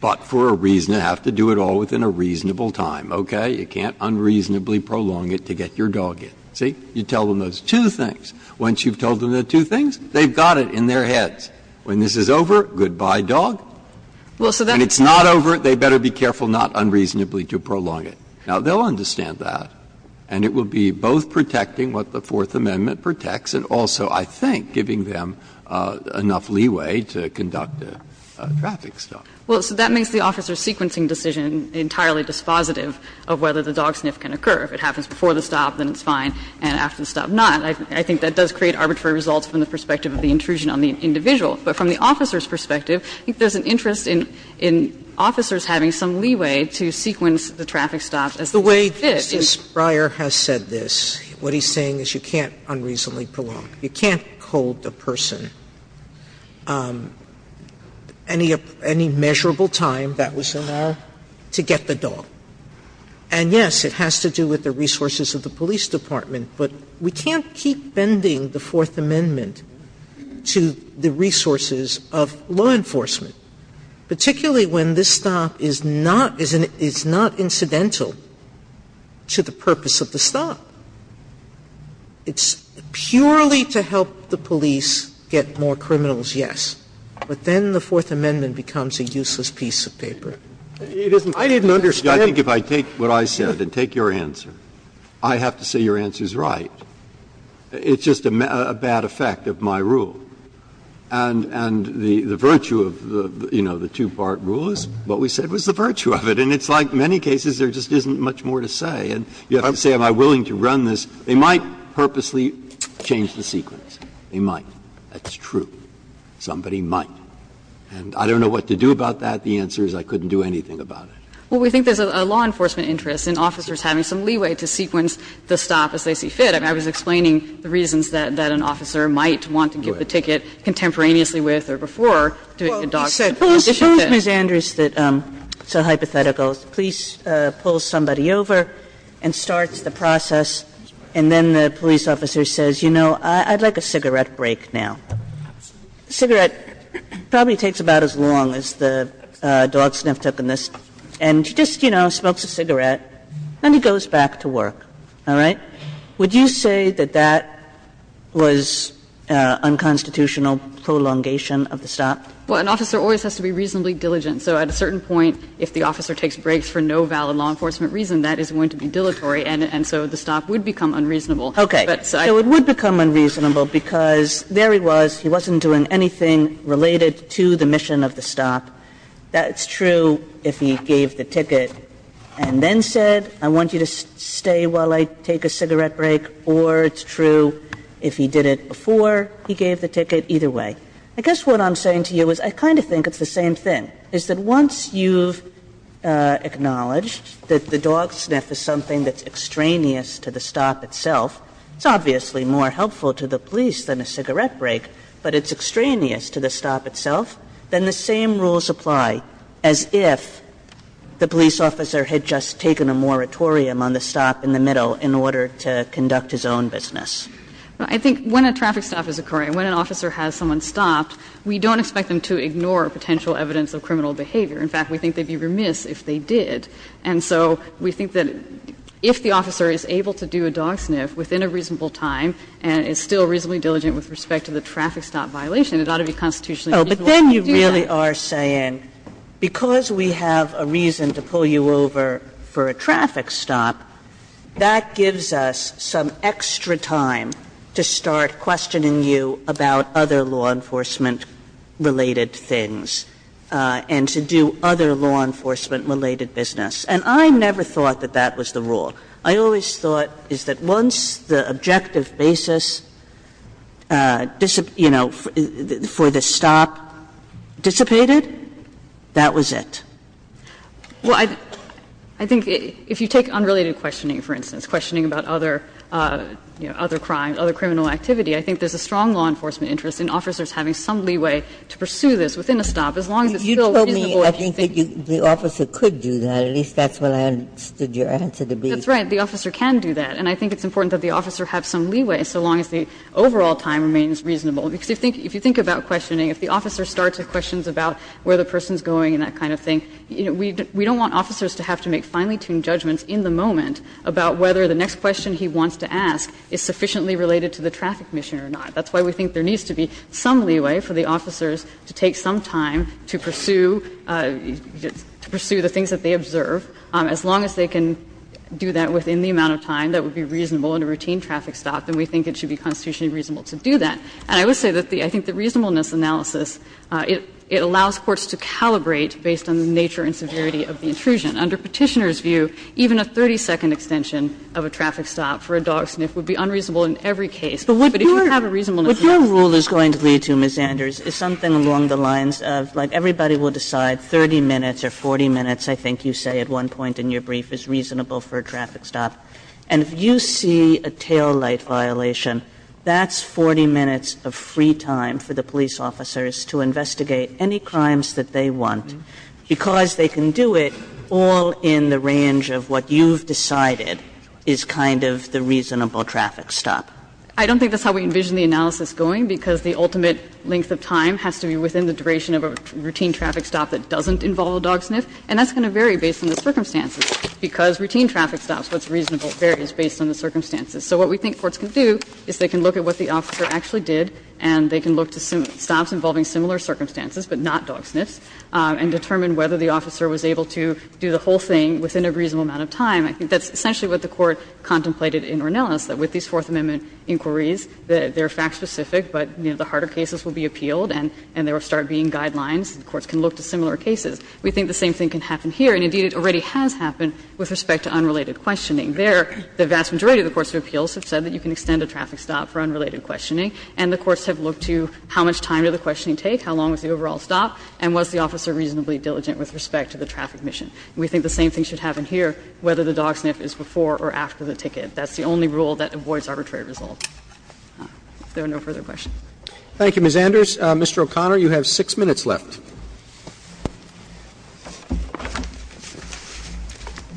but for a reason you have to do it all within a reasonable time, okay? You can't unreasonably prolong it to get your dog in. See? You tell them those two things. Once you've told them the two things, they've got it in their heads. When this is over, goodbye, dog. And it's not over, they better be careful not unreasonably to prolong it. Now, they'll understand that. And it will be both protecting what the Fourth Amendment protects and also, I think, giving them enough leeway to conduct a traffic stop. Well, so that makes the officer's sequencing decision entirely dispositive of whether the dog sniff can occur. If it happens before the stop, then it's fine, and after the stop, not. I think that does create arbitrary results from the perspective of the intrusion on the individual. But from the officer's perspective, I think there's an interest in officers having some leeway to sequence the traffic stop as the way it fits. Sotomayor, Justice Breyer has said this. What he's saying is you can't unreasonably prolong. You can't cold the person. Any measurable time that was allowed to get the dog. And yes, it has to do with the resources of the police department, but we can't keep bending the Fourth Amendment to the resources of law enforcement, particularly when this stop is not incidental to the purpose of the stop. It's purely to help the police get more criminals, yes, but then the Fourth Amendment becomes a useless piece of paper. Breyer, I didn't understand. Breyer, I think if I take what I said and take your answer, I have to say your answer is right. It's just a bad effect of my rule. And the virtue of the, you know, the two-part rule is what we said was the virtue of it. And it's like many cases, there just isn't much more to say. And you have to say, am I willing to run this? They might purposely change the sequence. They might. That's true. Somebody might. And I don't know what to do about that. The answer is I couldn't do anything about it. Well, we think there's a law enforcement interest in officers having some leeway to sequence the stop as they see fit. I mean, I was explaining the reasons that an officer might want to get the ticket contemporaneously with or before doing the dog. Sotomayor, suppose Ms. Andrews said, it's a hypothetical, the police pull somebody over and starts the process, and then the police officer says, you know, I'd like a cigarette break now. Cigarette probably takes about as long as the dog sniff took in this, and she just, you know, smokes a cigarette, and he goes back to work, all right? Would you say that that was unconstitutional prolongation of the stop? Well, an officer always has to be reasonably diligent. So at a certain point, if the officer takes breaks for no valid law enforcement reason, that is going to be dilatory, and so the stop would become unreasonable. Okay. So it would become unreasonable because there he was. He wasn't doing anything related to the mission of the stop. That's true if he gave the ticket and then said, I want you to stay while I take a cigarette break, or it's true if he did it before he gave the ticket, either way. I guess what I'm saying to you is I kind of think it's the same thing, is that once you've acknowledged that the dog sniff is something that's extraneous to the stop itself, it's obviously more helpful to the police than a cigarette break, but it's extraneous to the stop itself, then the same rules apply as if the police officer had just taken a moratorium on the stop in the middle in order to conduct his own business. Well, I think when a traffic stop is occurring, when an officer has someone stopped, we don't expect them to ignore potential evidence of criminal behavior. In fact, we think they'd be remiss if they did. And so we think that if the officer is able to do a dog sniff within a reasonable time and is still reasonably diligent with respect to the traffic stop violation, it ought to be constitutionally reasonable to do that. Oh, but then you really are saying because we have a reason to pull you over for a traffic stop, that gives us some extra time to start questioning you about other law enforcement-related things and to do other law enforcement-related business. And I never thought that that was the rule. I always thought is that once the objective basis, you know, for the stop dissipated, that was it. Well, I think if you take unrelated questioning, for instance, questioning about other, you know, other crimes, other criminal activity, I think there's a strong law enforcement interest in officers having some leeway to pursue this within a stop, as long as it's still reasonable. You told me, I think, that the officer could do that, at least that's what I understood your answer to be. That's right. The officer can do that, and I think it's important that the officer have some leeway so long as the overall time remains reasonable. Because if you think about questioning, if the officer starts with questions about where the person's going and that kind of thing, you know, we don't want officers to have to make finely-tuned judgments in the moment about whether the next question he wants to ask is sufficiently related to the traffic mission or not. That's why we think there needs to be some leeway for the officers to take some time to pursue the things that they observe, as long as they can do that within the amount of time that would be reasonable in a routine traffic stop, then we think it should be constitutionally reasonable to do that. And I would say that the – I think the reasonableness analysis, it allows courts to calibrate based on the nature and severity of the intrusion. Under Petitioner's view, even a 30-second extension of a traffic stop for a dog sniff would be unreasonable in every case. But if you have a reasonableness analysis. Kagan. Kagan. Kagan. Kagan. Kagan. Kagan. Kagan. Kagan. Kagan. Kagan. Kagan. Kagan. Kagan. Kagan. Kagan. Kagan. Kagan. So you would say there is evidence of free time for the police officers to investigate any crimes that they want, because they can do it all in the range of what you've decided is kind of the reasonable traffic stop. I don't think that's how we envision the analysis going, because the ultimate length of time has to be within the duration of a routine traffic stop that doesn't involve a dog sniff, and that's going to vary based on the circumstances. Because routine traffic stops, what's reasonable varies based on the circumstances. So what we think courts can do is they can look at what the officer actually did and they can look to stops involving similar circumstances, but not dog sniffs, and determine whether the officer was able to do the whole thing within a reasonable amount of time. I think that's essentially what the Court contemplated in Ornelas, that with these Fourth Amendment inquiries, they're fact-specific, but, you know, the harder cases will be appealed and there will start being guidelines, and courts can look to similar cases. We think the same thing can happen here, and indeed it already has happened with respect to unrelated questioning. There, the vast majority of the courts of appeals have said that you can extend a traffic stop for unrelated questioning, and the courts have looked to how much time did the questioning take, how long was the overall stop, and was the officer reasonably diligent with respect to the traffic mission. We think the same thing should happen here, whether the dog sniff is before or after the ticket. That's the only rule that avoids arbitrary results. If there are no further questions. Roberts, Mr. O'Connor, you have 6 minutes left.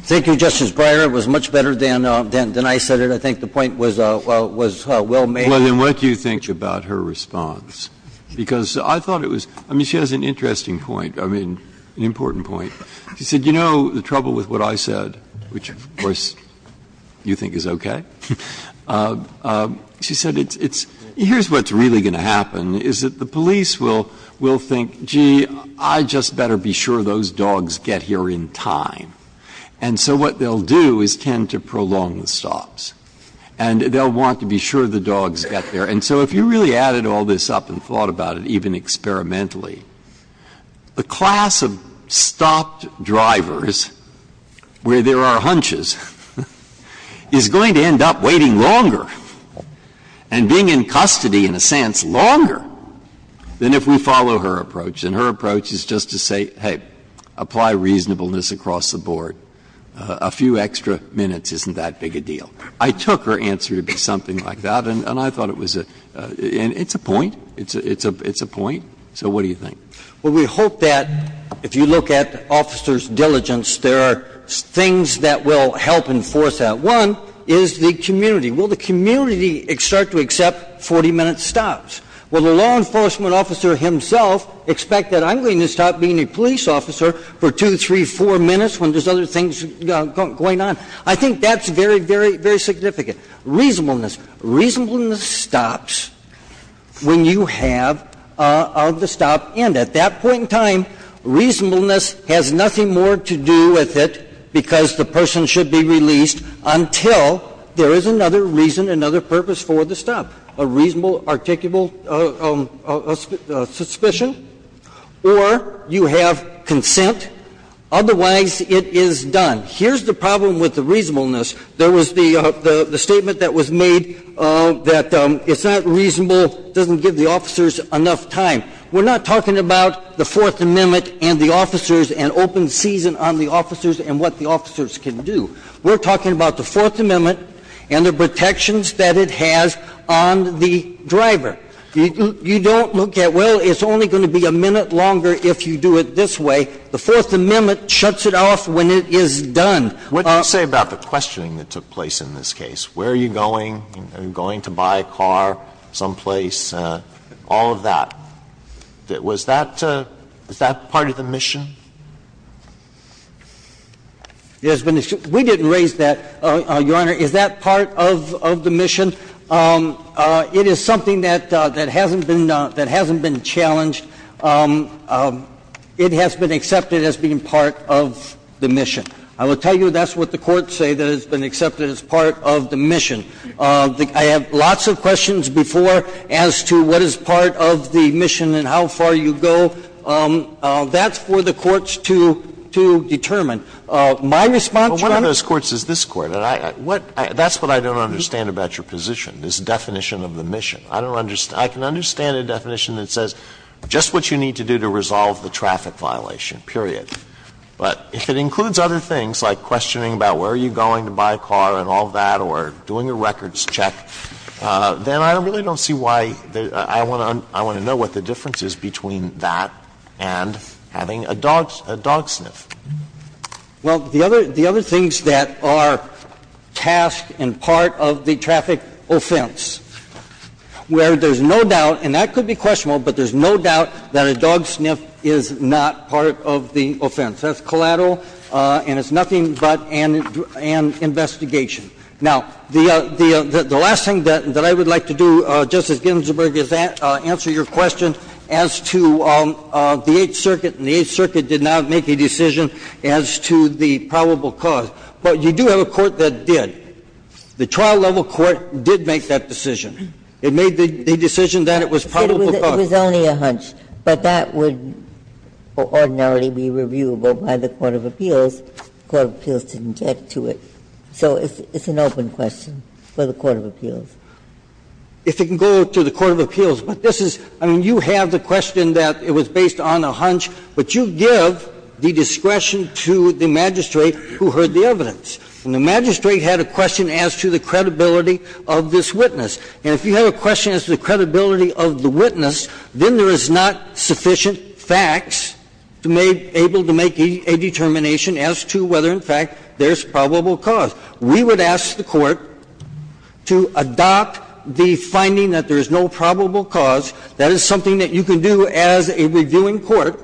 Thank you, Justice Breyer. It was much better than I said it. I think the point was well made. Breyer, what do you think about her response? Because I thought it was – I mean, she has an interesting point, I mean, an important point. She said, you know, the trouble with what I said, which, of course, you think is okay? She said it's – here's what's really going to happen, is that the police will think, gee, I'd just better be sure those dogs get here in time. And so what they'll do is tend to prolong the stops. And they'll want to be sure the dogs get there. And so if you really added all this up and thought about it, even experimentally, the class of stopped drivers where there are hunches is going to end up waiting longer, and being in custody, in a sense, longer than if we follow her approach. And her approach is just to say, hey, apply reasonableness across the board. A few extra minutes isn't that big a deal. I took her answer to be something like that, and I thought it was a – and it's a point. It's a point. So what do you think? Well, we hope that if you look at officers' diligence, there are things that will help enforce that. One is the community. Will the community start to accept 40-minute stops? Will the law enforcement officer himself expect that I'm going to stop being a police officer for two, three, four minutes when there's other things going on? I think that's very, very, very significant. Reasonableness. Reasonableness stops when you have the stop. And at that point in time, reasonableness has nothing more to do with it because the person should be released until there is another reason, another purpose for the stop, a reasonable, articulable suspicion, or you have consent, otherwise it is done. Here's the problem with the reasonableness. There was the statement that was made that it's not reasonable, doesn't give the officers enough time. We're not talking about the Fourth Amendment and the officers and open season on the road that the officers can do. We're talking about the Fourth Amendment and the protections that it has on the driver. You don't look at, well, it's only going to be a minute longer if you do it this way. The Fourth Amendment shuts it off when it is done. Alito, what did you say about the questioning that took place in this case? Where are you going? Are you going to buy a car someplace? All of that. Was that part of the mission? There's been a question. We didn't raise that. Your Honor, is that part of the mission? It is something that hasn't been challenged. It has been accepted as being part of the mission. I will tell you that's what the courts say, that it's been accepted as part of the mission. I have lots of questions before as to what is part of the mission and how far you go. That's for the courts to determine. My response, Your Honor to this Court, that's what I don't understand about your position, this definition of the mission. I can understand a definition that says just what you need to do to resolve the traffic violation, period. But if it includes other things like questioning about where are you going to buy a car and all that or doing a records check, then I really don't see why I want to know what the difference is between that and having a dog sniff. Well, the other things that are tasked and part of the traffic offense, where there's no doubt, and that could be questionable, but there's no doubt that a dog sniff is not part of the offense. That's collateral and it's nothing but an investigation. Now, the last thing that I would like to do, Justice Ginsburg, is answer your question as to the Eighth Circuit, and the Eighth Circuit did not make a decision as to the probable cause. But you do have a court that did. The trial-level court did make that decision. It made the decision that it was probable cause. Ginsburg. It was only a hunch, but that would ordinarily be reviewable by the court of appeals. The court of appeals didn't get to it. So it's an open question for the court of appeals. If it can go to the court of appeals. But this is you have the question that it was based on a hunch, but you give the discretion to the magistrate who heard the evidence. And the magistrate had a question as to the credibility of this witness. And if you have a question as to the credibility of the witness, then there is not sufficient facts to be able to make a determination as to whether, in fact, there's a probable cause. We would ask the court to adopt the finding that there is no probable cause. That is something that you can do as a reviewing court,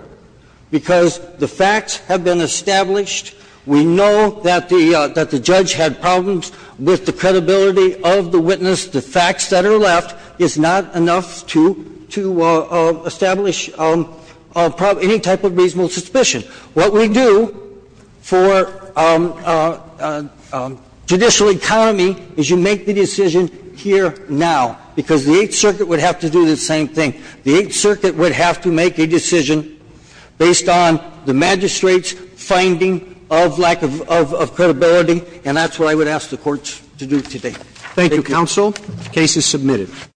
because the facts have been established. We know that the judge had problems with the credibility of the witness. The facts that are left is not enough to establish any type of reasonable suspicion. What we do for judicial economy is you make the decision here now, because the Eighth Circuit would have to do the same thing. The Eighth Circuit would have to make a decision based on the magistrate's finding of lack of credibility, and that's what I would ask the courts to do today. Thank you. Roberts. Thank you, counsel. The case is submitted.